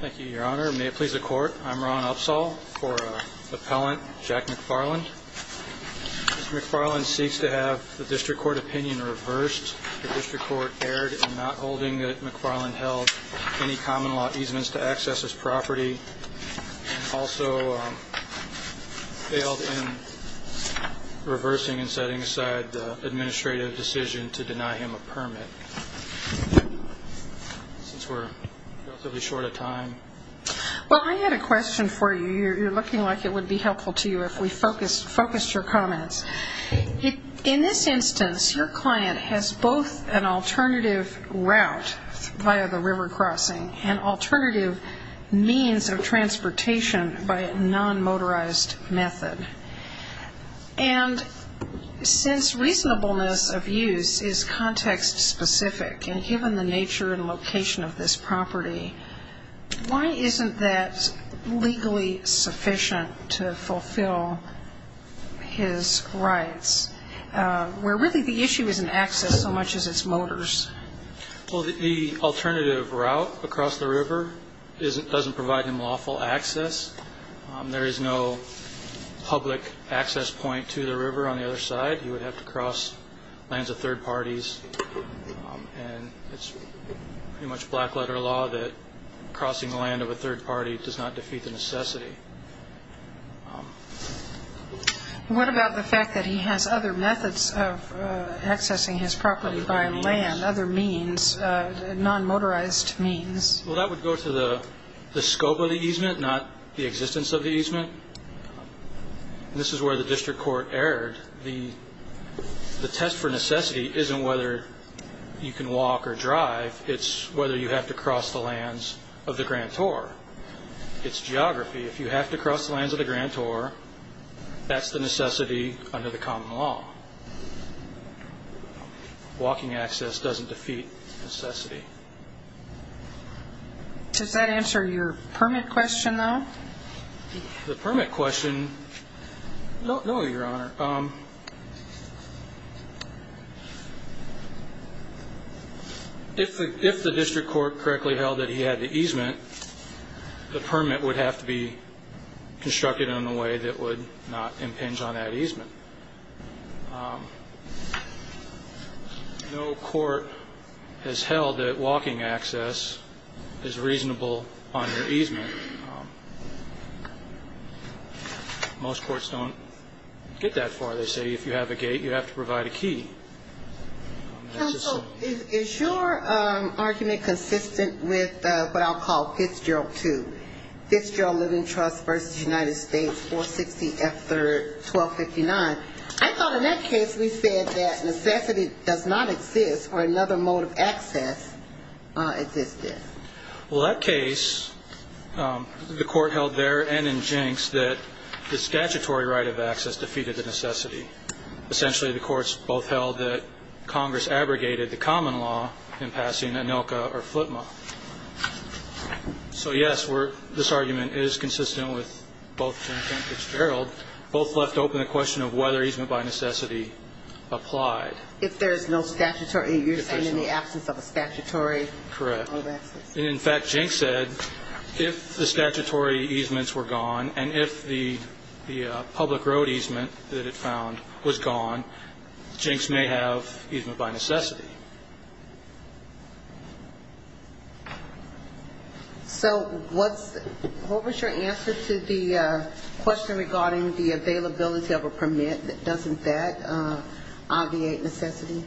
Thank you, Your Honor. May it please the Court, I'm Ron Upsall for Appellant Jack McFarland. Mr. McFarland seeks to have the District Court opinion reversed. The District Court erred in not holding that McFarland held any common law easements to access his property and also failed in reversing and setting aside the administrative decision to deny him a permit. Since we're relatively short of time. Well, I had a question for you. You're looking like it would be helpful to you if we focused your comments. In this instance, your client has both an alternative route via the river crossing and alternative means of transportation by a non-motorized method. And since reasonableness of use is context specific and given the nature and location of this property, why isn't that legally sufficient to fulfill his rights, where really the issue isn't access so much as its motors? Well, the alternative route across the river doesn't provide him lawful access. There is no public access point to the river on the other side. He would have to cross lands of third parties. And it's pretty much black letter law that crossing the land of a third party does not defeat the necessity. What about the fact that he has other methods of accessing his property by land, other means, non-motorized means? Well, that would go to the scope of the easement, not the existence of the easement. This is where the district court erred. The test for necessity isn't whether you can walk or drive. It's whether you have to cross the lands of the grantor. It's geography. If you have to cross the lands of the grantor, that's the necessity under the common law. Walking access doesn't defeat necessity. Does that answer your permit question, though? The permit question, no, Your Honor. If the district court correctly held that he had the easement, the permit would have to be constructed in a way that would not impinge on that easement. No court has held that walking access is reasonable on your easement. Most courts don't get that far. They say if you have a gate, you have to provide a key. Counsel, is your argument consistent with what I'll call Fitzgerald II, Fitzgerald Living Trust v. United States, 460 F. 3rd, 1259? I thought in that case we said that necessity does not exist or another mode of access existed. Well, that case, the court held there and in Jenks that the statutory right of access defeated the necessity. Essentially, the courts both held that Congress abrogated the common law in passing ANILCA or FLTMA. So, yes, this argument is consistent with both Jenks and Fitzgerald. Both left open the question of whether easement by necessity applied. If there's no statutory use and in the absence of a statutory mode of access. Correct. In fact, Jenks said if the statutory easements were gone and if the public road easement that it found was gone, Jenks may have easement by necessity. So what was your answer to the question regarding the availability of a permit? Doesn't that obviate necessity?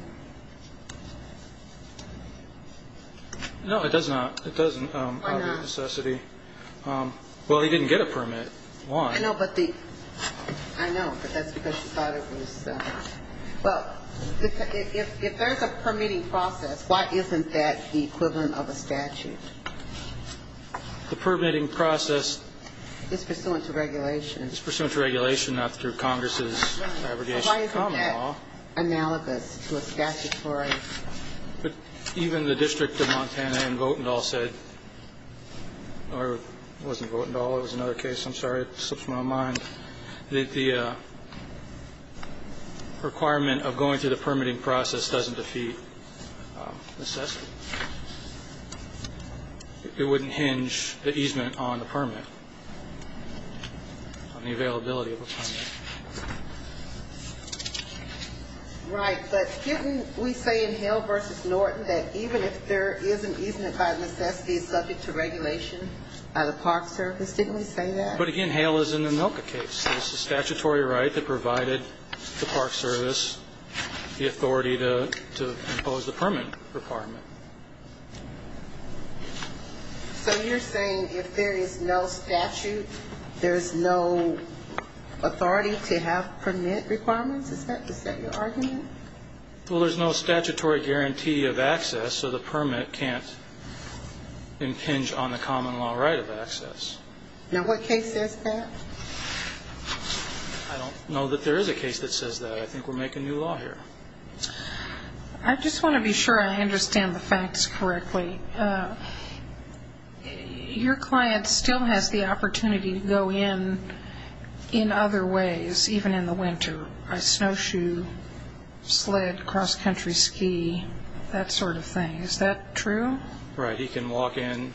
No, it does not. It doesn't obviate necessity. Why not? Well, he didn't get a permit. Why? I know, but the – I know, but that's because he thought it was – well, if there's a permitting process, why isn't that the equivalent of a statute? The permitting process. It's pursuant to regulation. It's pursuant to regulation, not through Congress's abrogation of common law. But even the district of Montana in Votendahl said – or it wasn't Votendahl. It was another case. I'm sorry. It slips my mind. The requirement of going through the permitting process doesn't defeat necessity. It wouldn't hinge the easement on the permit, on the availability of a permit. Right. But didn't we say in Hale v. Norton that even if there is an easement by necessity, it's subject to regulation by the Park Service? Didn't we say that? But, again, Hale is in the Milka case. It's a statutory right that provided the Park Service the authority to impose the permit requirement. So you're saying if there is no statute, there is no authority to have permit requirements? Is that your argument? Well, there's no statutory guarantee of access, so the permit can't impinge on the common law right of access. Now, what case says that? I don't know that there is a case that says that. I think we're making new law here. I just want to be sure I understand the facts correctly. Your client still has the opportunity to go in in other ways, even in the winter, a snowshoe, sled, cross-country ski, that sort of thing. Is that true? Right. He can walk in.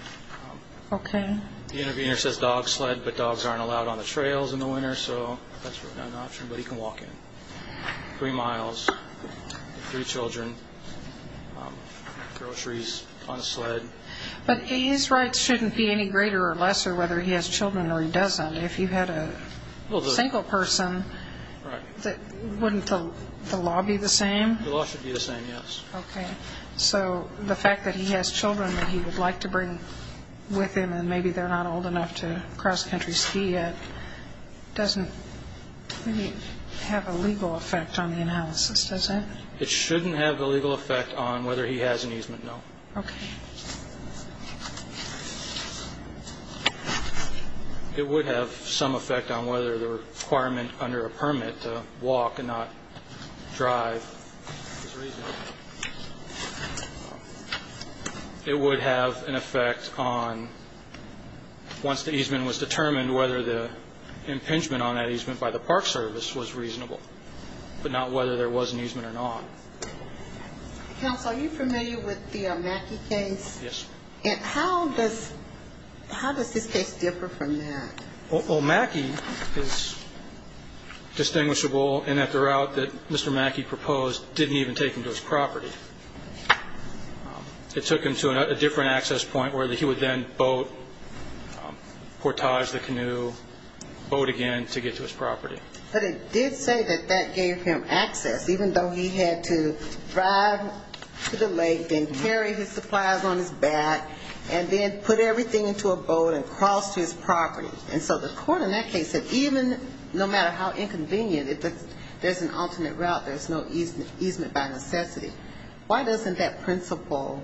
Okay. The interviewer says dog sled, but dogs aren't allowed on the trails in the winter, so that's not an option, but he can walk in. Three miles, three children, groceries on a sled. But his rights shouldn't be any greater or lesser whether he has children or he doesn't. If you had a single person, wouldn't the law be the same? The law should be the same, yes. Okay. So the fact that he has children that he would like to bring with him and maybe they're not old enough to cross-country ski yet doesn't really have a legal effect on the analysis, does it? It shouldn't have a legal effect on whether he has an easement, no. Okay. It would have some effect on whether the requirement under a permit to walk and not drive. There's a reason. It would have an effect on, once the easement was determined, whether the impingement on that easement by the park service was reasonable, but not whether there was an easement or not. Counsel, are you familiar with the Mackey case? Yes. And how does this case differ from that? Well, Mackey is distinguishable in that the route that Mr. Mackey proposed didn't even take him to his property. It took him to a different access point where he would then boat, portage the canoe, boat again to get to his property. But it did say that that gave him access, even though he had to drive to the lake, then carry his supplies on his back, and then put everything into a boat and cross to his property. And so the court in that case said even no matter how inconvenient, if there's an alternate route, there's no easement by necessity. Why doesn't that principle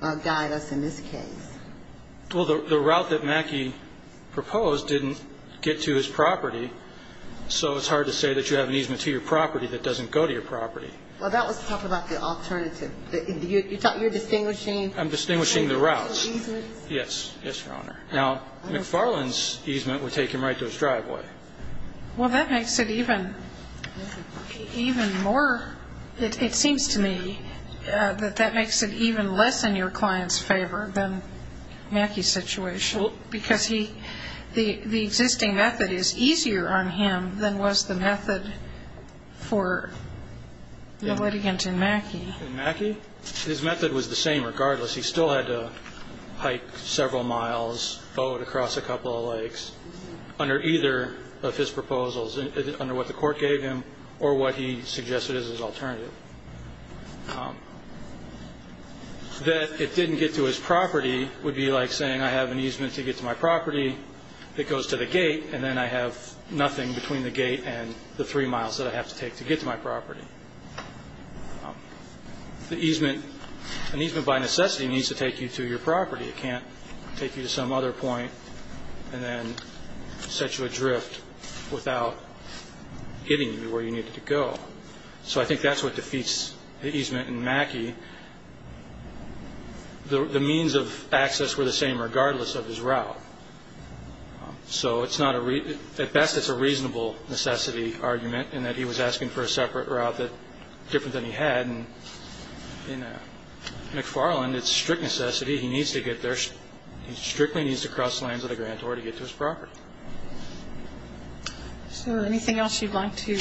guide us in this case? Well, the route that Mackey proposed didn't get to his property, so it's hard to say that you have an easement to your property that doesn't go to your property. Well, that was talking about the alternative. You're distinguishing? I'm distinguishing the routes. Yes. Yes, Your Honor. Now, McFarland's easement would take him right to his driveway. Well, that makes it even more, it seems to me, that that makes it even less in your client's favor than Mackey's situation because the existing method is easier on him than was the method for the litigant in Mackey. In Mackey? His method was the same regardless. He still had to hike several miles, boat across a couple of lakes under either of his proposals, under what the court gave him or what he suggested as his alternative. That it didn't get to his property would be like saying I have an easement to get to my property that goes to the gate and then I have nothing between the gate and the three miles that I have to take to get to my property. The easement, an easement by necessity needs to take you to your property. It can't take you to some other point and then set you adrift without getting you where you needed to go. So I think that's what defeats the easement in Mackey. The means of access were the same regardless of his route. So at best it's a reasonable necessity argument in that he was asking for a separate route different than he had. In McFarland, it's strict necessity. He needs to get there. He strictly needs to cross lands of the grantor to get to his property. So anything else you'd like to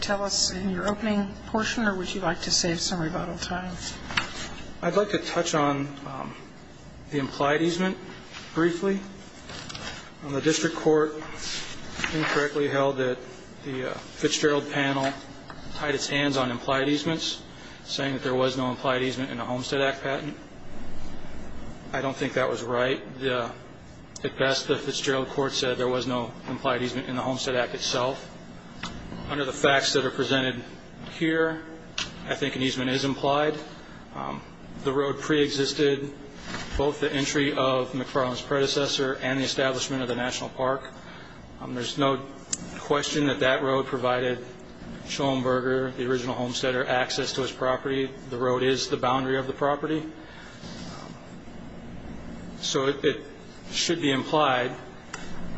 tell us in your opening portion or would you like to save some rebuttal time? I'd like to touch on the implied easement briefly. The district court incorrectly held that the Fitzgerald panel tied its hands on implied easements, saying that there was no implied easement in the Homestead Act patent. I don't think that was right. At best, the Fitzgerald court said there was no implied easement in the Homestead Act itself. Under the facts that are presented here, I think an easement is implied. The road preexisted both the entry of McFarland's predecessor and the establishment of the national park. There's no question that that road provided Schoenberger, the original homesteader, access to his property. The road is the boundary of the property. So it should be implied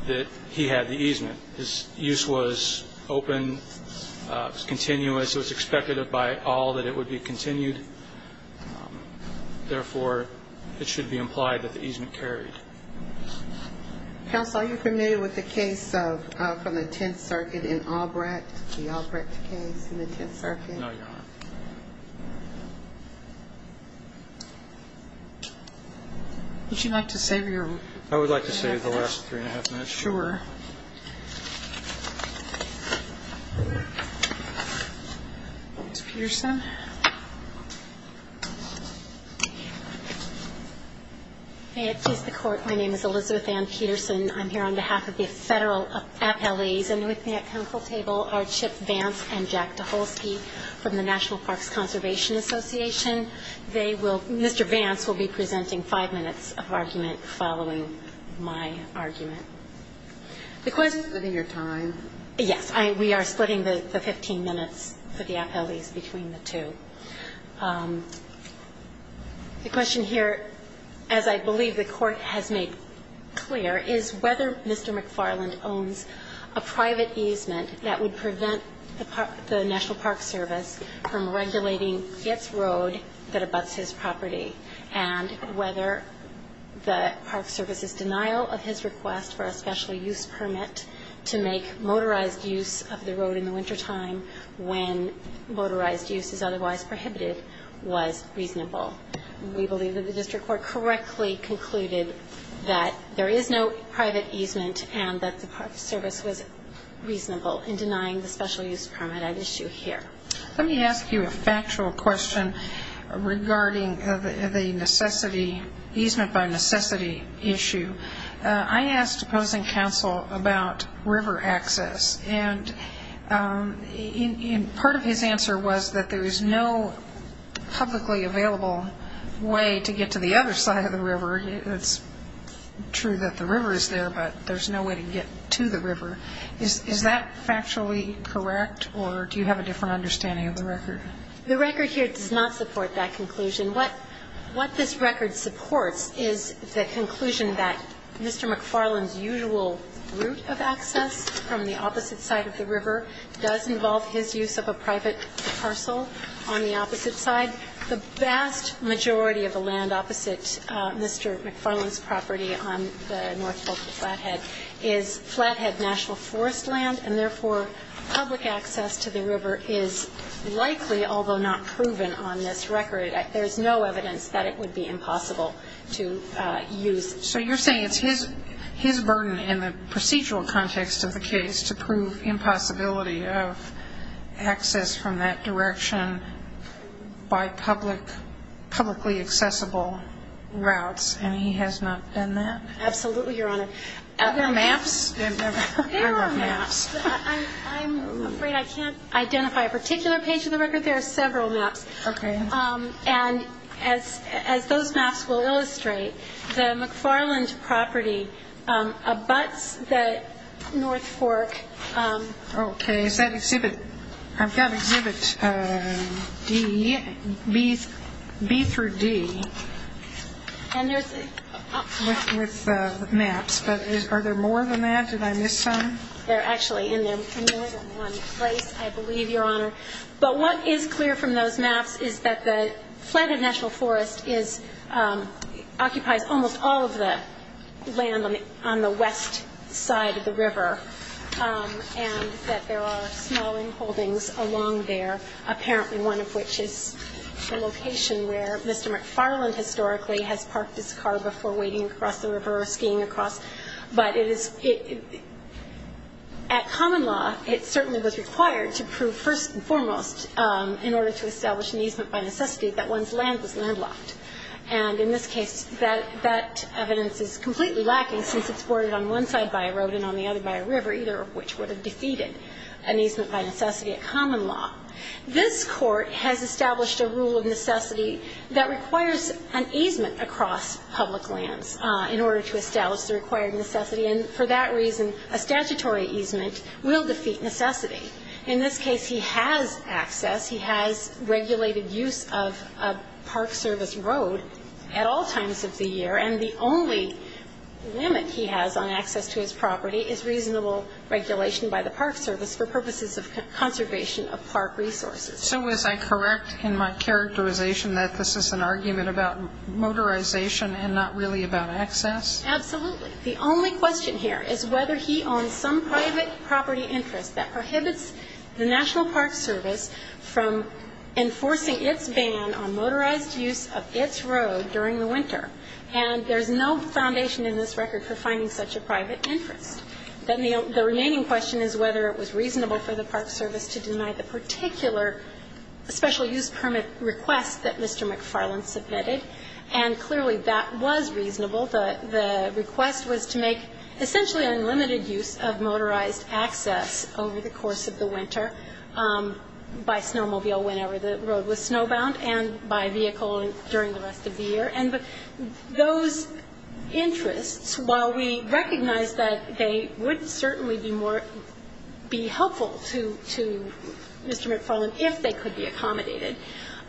that he had the easement. His use was open. It was continuous. It was expected by all that it would be continued. Therefore, it should be implied that the easement carried. Counsel, are you familiar with the case from the Tenth Circuit in Albrecht, the Albrecht case in the Tenth Circuit? No, Your Honor. Would you like to save your time? I would like to save the last three and a half minutes. Sure. Ms. Peterson. May it please the Court, my name is Elizabeth Ann Peterson. I'm here on behalf of the federal appellees. And with me at counsel table are Chip Vance and Jack DeHolske from the National Parks Conservation Association. Mr. Vance will be presenting five minutes of argument following my argument. The question of your time. Yes. We are splitting the 15 minutes for the appellees between the two. The question here, as I believe the Court has made clear, is whether Mr. McFarland owns a private easement that would prevent the National Parks Service from regulating a road that abuts his property and whether the Park Service's denial of his request for a special use permit to make motorized use of the road in the wintertime when motorized use is otherwise prohibited was reasonable. We believe that the district court correctly concluded that there is no private easement and that the Park Service was reasonable in denying the special use permit at issue here. Let me ask you a factual question regarding the easement by necessity issue. I asked opposing counsel about river access. And part of his answer was that there is no publicly available way to get to the other side of the river. It's true that the river is there, but there's no way to get to the river. Is that factually correct, or do you have a different understanding of the record? The record here does not support that conclusion. What this record supports is the conclusion that Mr. McFarland's usual route of access from the opposite side of the river does involve his use of a private parcel on the opposite side. The vast majority of the land opposite Mr. McFarland's property on the north folk of Flathead is Flathead National Forest land, and therefore, public access to the river is likely, although not proven on this record, there's no evidence that it would be impossible to use. So you're saying it's his burden in the procedural context of the case to prove impossibility of access from that direction by publicly accessible routes, and he has not done that? Absolutely, Your Honor. Are there maps? I love maps. I'm afraid I can't identify a particular page of the record. There are several maps. And as those maps will illustrate, the McFarland property abuts the north fork. Okay. I've got exhibit B through D with maps, but are there more than that? Did I miss some? There are actually more than one place, I believe, Your Honor. But what is clear from those maps is that the Flathead National Forest occupies almost all of the land on the west side of the river, and that there are smalling holdings along there, apparently one of which is the location where Mr. McFarland historically has parked his car before wading across the river or skiing across. But at common law, it certainly was required to prove first and foremost in order to establish an easement by necessity that one's land was landlocked. And in this case, that evidence is completely lacking, since it's boarded on one side by a road and on the other by a river, either of which would have defeated an easement by necessity at common law. This Court has established a rule of necessity that requires an easement across public lands in order to establish the required necessity, and for that reason, a statutory easement will defeat necessity. In this case, he has access, he has regulated use of a park service road at all times of the year, and the only limit he has on access to his property is reasonable regulation by the park service for purposes of conservation of park resources. So is I correct in my characterization that this is an argument about motorization and not really about access? Absolutely. The only question here is whether he owns some private property interest that prohibits the National Park Service from enforcing its ban on motorized use of its road during the winter, and there's no foundation in this record for finding such a private interest. Then the remaining question is whether it was reasonable for the park service to deny the particular special use permit request that Mr. McFarland submitted, and clearly that was reasonable. The request was to make essentially unlimited use of motorized access over the course of the winter by snowmobile whenever the road was snowbound and by vehicle during the rest of the year. And those interests, while we recognize that they would certainly be helpful to Mr. McFarland if they could be accommodated,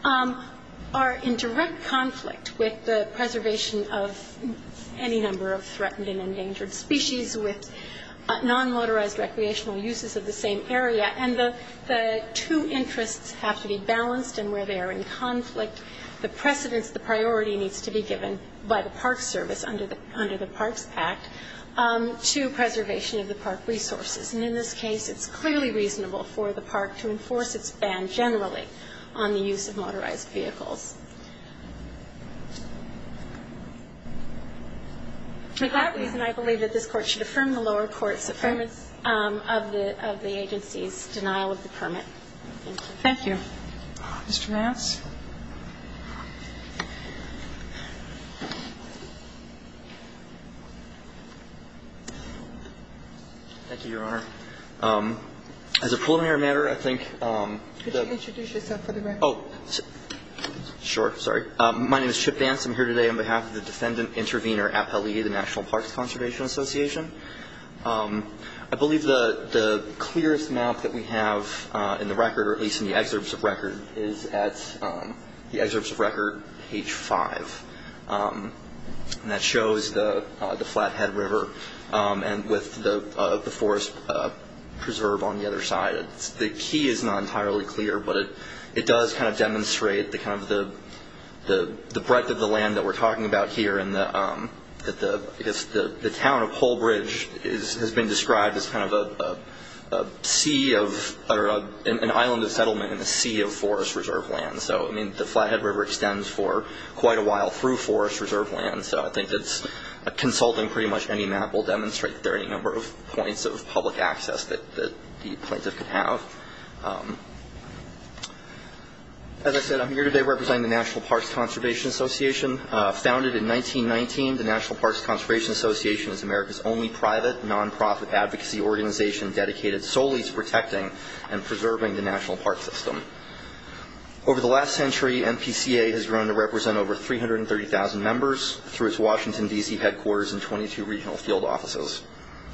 are in direct conflict with the preservation of any number of threatened and endangered species with non-motorized recreational uses of the same area, and the two interests have to be balanced in where they are in conflict. The precedence, the priority needs to be given by the park service under the Parks Act to preservation of the park resources. And in this case, it's clearly reasonable for the park to enforce its ban generally on the use of motorized vehicles. For that reason, I believe that this Court should affirm the lower court's affirmance of the agency's denial of the permit. Thank you. Thank you. Mr. Vance. Thank you, Your Honor. As a preliminary matter, I think Could you introduce yourself for the record? Sure. Sorry. My name is Chip Vance. I'm here today on behalf of the Defendant Intervenor Appellee of the National Parks Conservation Association. I believe the clearest map that we have in the record, or at least in the excerpts of record, is at the excerpts of record, page 5. And that shows the Flathead River with the forest preserve on the other side. The key is not entirely clear, but it does kind of demonstrate the breadth of the land that we're talking about here. The town of Holbridge has been described as kind of an island of settlement in a sea of forest reserve land. The Flathead River extends for quite a while through forest reserve land, so I think that consulting pretty much any map will demonstrate that there are any number of points of public access that the plaintiff could have. As I said, I'm here today representing the National Parks Conservation Association. Founded in 1919, the National Parks Conservation Association is America's only private, non-profit advocacy organization dedicated solely to protecting and preserving the national park system. Over the last century, NPCA has grown to represent over 330,000 members through its Washington, D.C. headquarters and 22 regional field offices,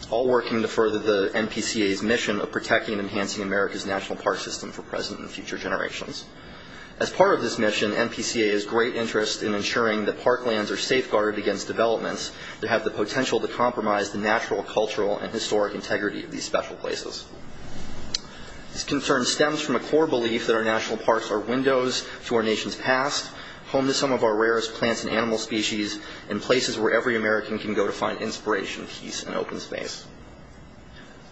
all working to further the NPCA's mission of protecting and enhancing America's national park system for present and future generations. As part of this mission, NPCA has great interest in ensuring that park lands are safeguarded against developments that have the potential to compromise the natural, cultural, and historic integrity of these special places. This concern stems from a core belief that our national parks are windows to our nation's past, home to some of our rarest plants and animal species, and places where every American can go to find inspiration, peace, and open space.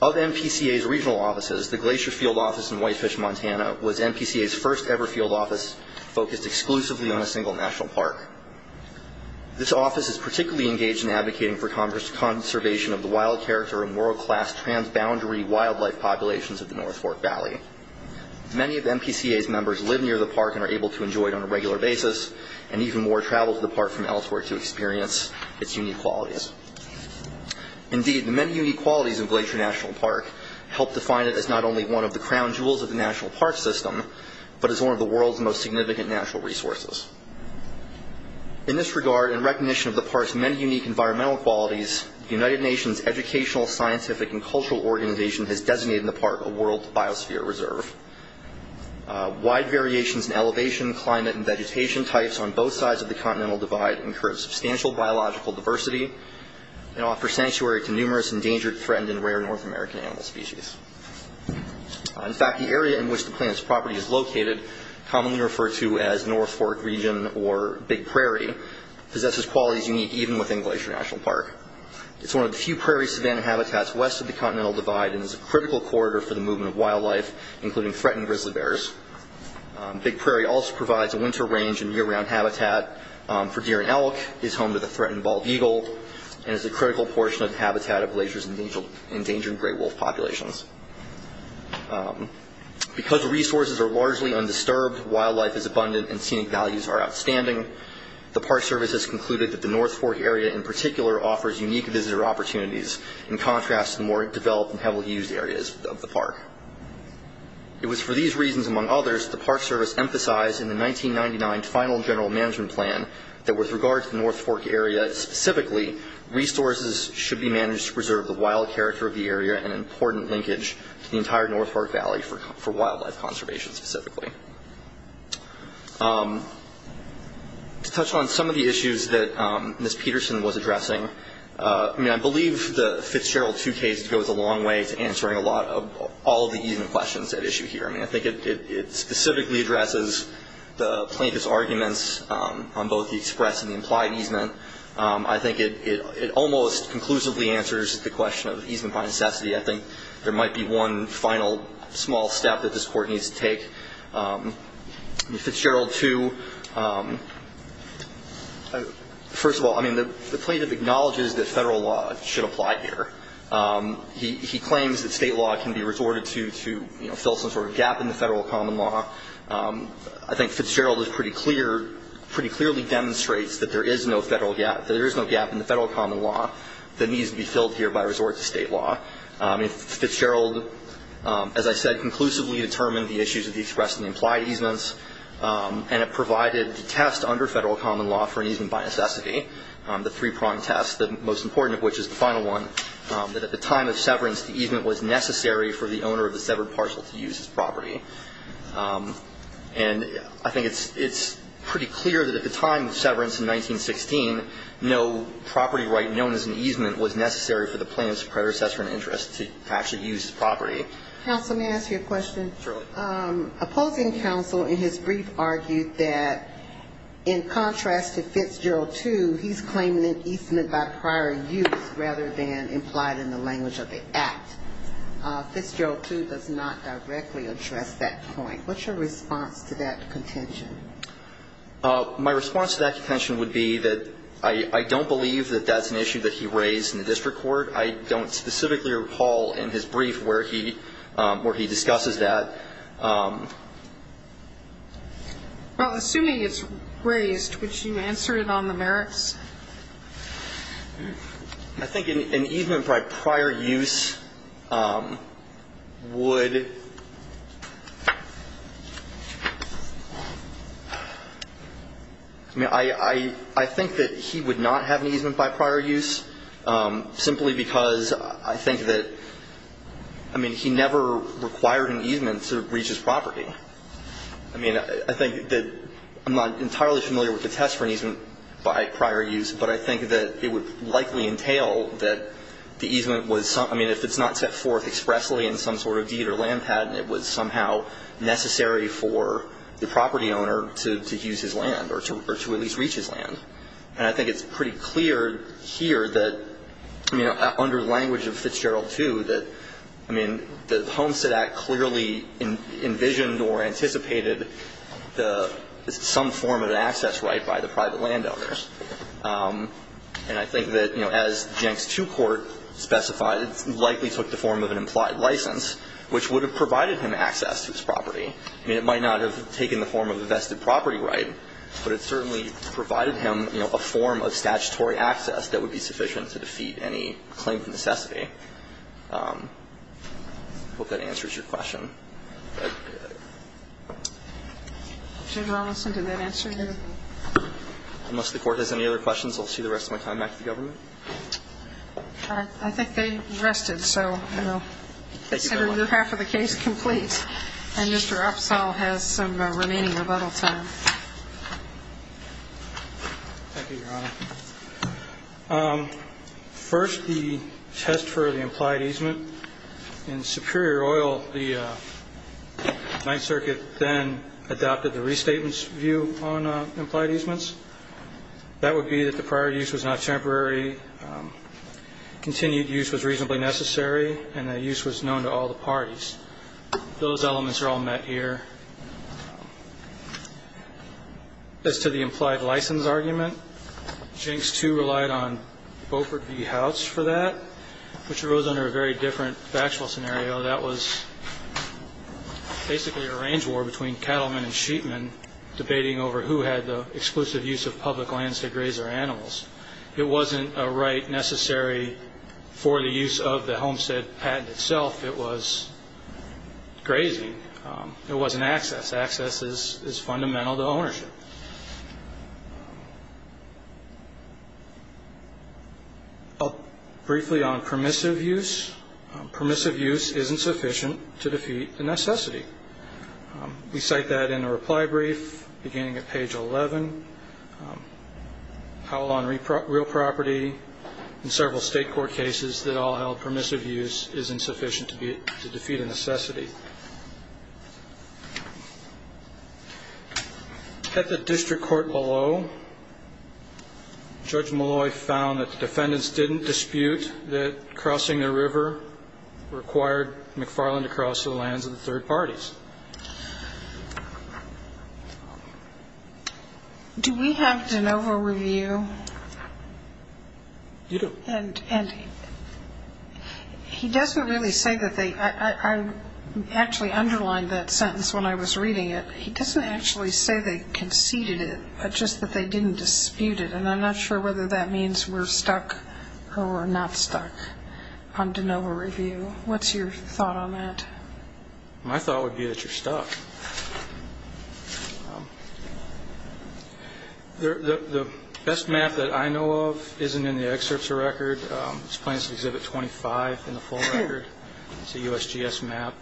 Of NPCA's regional offices, the Glacier Field Office in Whitefish, Montana was NPCA's first-ever field office focused exclusively on a single national park. This office is particularly engaged in advocating for conservation of the wild character and world-class transboundary wildlife populations of the North Fork Valley. Many of NPCA's members live near the park and are able to enjoy it on a regular basis, and even more travel to the park from elsewhere to experience its unique qualities. Indeed, the many unique qualities of Glacier National Park help define it as not only one of the crown jewels of the national park system, but as one of the world's most significant natural resources. In this regard, in recognition of the park's many unique environmental qualities, the United Nations Educational, Scientific, and Cultural Organization has designated the park a World Biosphere Reserve. Wide variations in elevation, climate, and vegetation types on both sides of the continental divide encourage substantial biological diversity and offer sanctuary to numerous endangered, threatened, and rare North American animal species. In fact, the area in which the plant's property is located, commonly referred to as North Fork Region or Big Prairie, possesses qualities unique even within Glacier National Park. It's one of the few prairie-savannah habitats west of the continental divide and is a critical corridor for the movement of wildlife, including threatened grizzly bears. Big Prairie also provides a winter range and year-round habitat for deer and elk, is home to the threatened bald eagle, and is a critical portion of the habitat of Glacier's endangered gray wolf populations. Because resources are largely undisturbed, wildlife is abundant, and scenic values are outstanding, the Park Service has concluded that the North Fork area in particular offers unique visitor opportunities in contrast to the more developed and heavily used areas of the park. It was for these reasons, among others, the Park Service emphasized in the 1999 Final General Management Plan that with regard to the North Fork area specifically, resources should be managed to preserve the wild character of the area and an important linkage to the entire North Fork Valley for wildlife conservation specifically. To touch on some of the issues that Ms. Peterson was addressing, I believe the Fitzgerald 2 case goes a long way to answering all of the easement questions at issue here. I think it specifically addresses the plaintiff's arguments on both the express and the implied easement. I think it almost conclusively answers the question of easement by necessity. I think there might be one final small step that this Court needs to take. The Fitzgerald 2, first of all, the plaintiff acknowledges that federal law should apply here. He claims that state law can be resorted to fill some sort of gap in the federal common law. I think Fitzgerald pretty clearly demonstrates that there is no gap in the federal common law that needs to be filled here by resort to state law. Fitzgerald, as I said, conclusively determined the issues of the express and the implied easements and it provided the test under federal common law for an easement by necessity, the three-prong test, the most important of which is the final one, that at the time of severance the easement was necessary for the owner of the severed parcel to use his property. And I think it's pretty clear that at the time of severance in 1916, no property right known as an easement was necessary for the plaintiff's predecessor in interest to actually use his property. Counsel, may I ask you a question? Sure. Opposing counsel in his brief argued that in contrast to Fitzgerald 2, he's claiming an easement by prior use rather than implied in the language of the act. Fitzgerald 2 does not directly address that point. What's your response to that contention? My response to that contention would be that I don't believe that that's an issue that he raised in the district court. I don't specifically recall in his brief where he discusses that. Well, assuming it's raised, would you answer it on the merits? I think an easement by prior use would I mean, I think that he would not have an easement by prior use simply because I think that, I mean, he never required an easement to breach his property. I mean, I think that I'm not entirely familiar with the test for an easement by prior use, but I think that it would likely entail that the easement was, I mean, if it's not set forth expressly in some sort of deed or land patent, it was somehow necessary for the property owner to use his land or to at least reach his land. And I think it's pretty clear here that, you know, under the language of Fitzgerald 2, that, I mean, the Homestead Act clearly envisioned or anticipated some form of an access right by the private landowners. And I think that, you know, as Jenks 2 Court specified, it likely took the form of an implied license, which would have provided him access to his property. I mean, it might not have taken the form of a vested property right, but it certainly provided him, you know, a form of statutory access that would be sufficient to defeat any claim to necessity. I hope that answers your question. Judge Rolison, did that answer your question? Unless the Court has any other questions, I'll see the rest of my time back to the government. I think they rested, so, you know, half of the case is complete. And Mr. Upsall has some remaining rebuttal time. Thank you, Your Honor. First, the test for the implied easement. In Superior Oil, the Ninth Circuit then adopted the restatement view on implied easements. That would be that the prior use was not temporary, continued use was reasonably necessary, and the use was known to all the parties. Those elements are all met here. As to the implied license argument, Jenks 2 relied on Beaufort v. House for that, which arose under a very different factual scenario. That was basically a range war between cattlemen and sheepmen debating over who had the exclusive use of public lands to graze their animals. It wasn't a right necessary for the use of the homestead patent itself. It was grazing. It wasn't access. Access is fundamental to ownership. Briefly on permissive use, permissive use isn't sufficient to defeat a necessity. We cite that in a reply brief beginning at page 11. How on real property in several state court cases that all held permissive use isn't sufficient to defeat a necessity. At the district court below, Judge Molloy found that the defendants didn't dispute that crossing the river required McFarland to cross the lands of the third parties. Do we have de novo review? You do. And he doesn't really say that they – I actually underlined that sentence when I was reading it. He doesn't actually say they conceded it, but just that they didn't dispute it. And I'm not sure whether that means we're stuck or we're not stuck on de novo review. What's your thought on that? My thought would be that you're stuck. The best map that I know of isn't in the excerpts of record. It's plans for Exhibit 25 in the full record. It's a USGS map.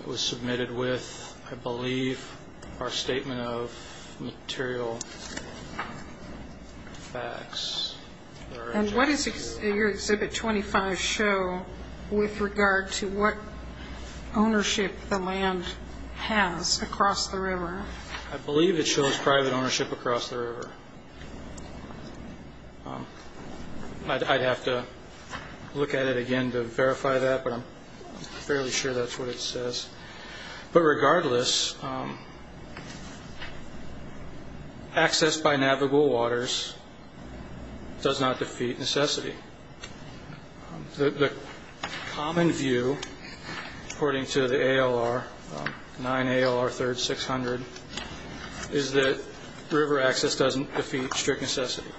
It was submitted with, I believe, our statement of material facts. And what does your Exhibit 25 show with regard to what ownership the land has across the river? I believe it shows private ownership across the river. I'd have to look at it again to verify that, but I'm fairly sure that's what it says. But regardless, access by navigable waters does not defeat necessity. The common view, according to the ALR, 9 ALR 3rd 600, is that river access doesn't defeat strict necessity.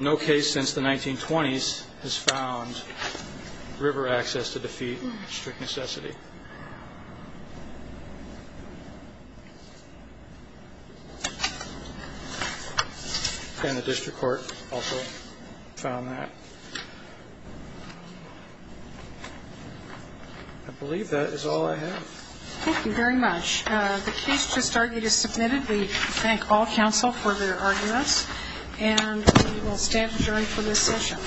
No case since the 1920s has found river access to defeat strict necessity. And the district court also found that. I believe that is all I have. Thank you very much. The case just argued is submitted. We thank all counsel for their arguments, and we will stand adjourned for this session.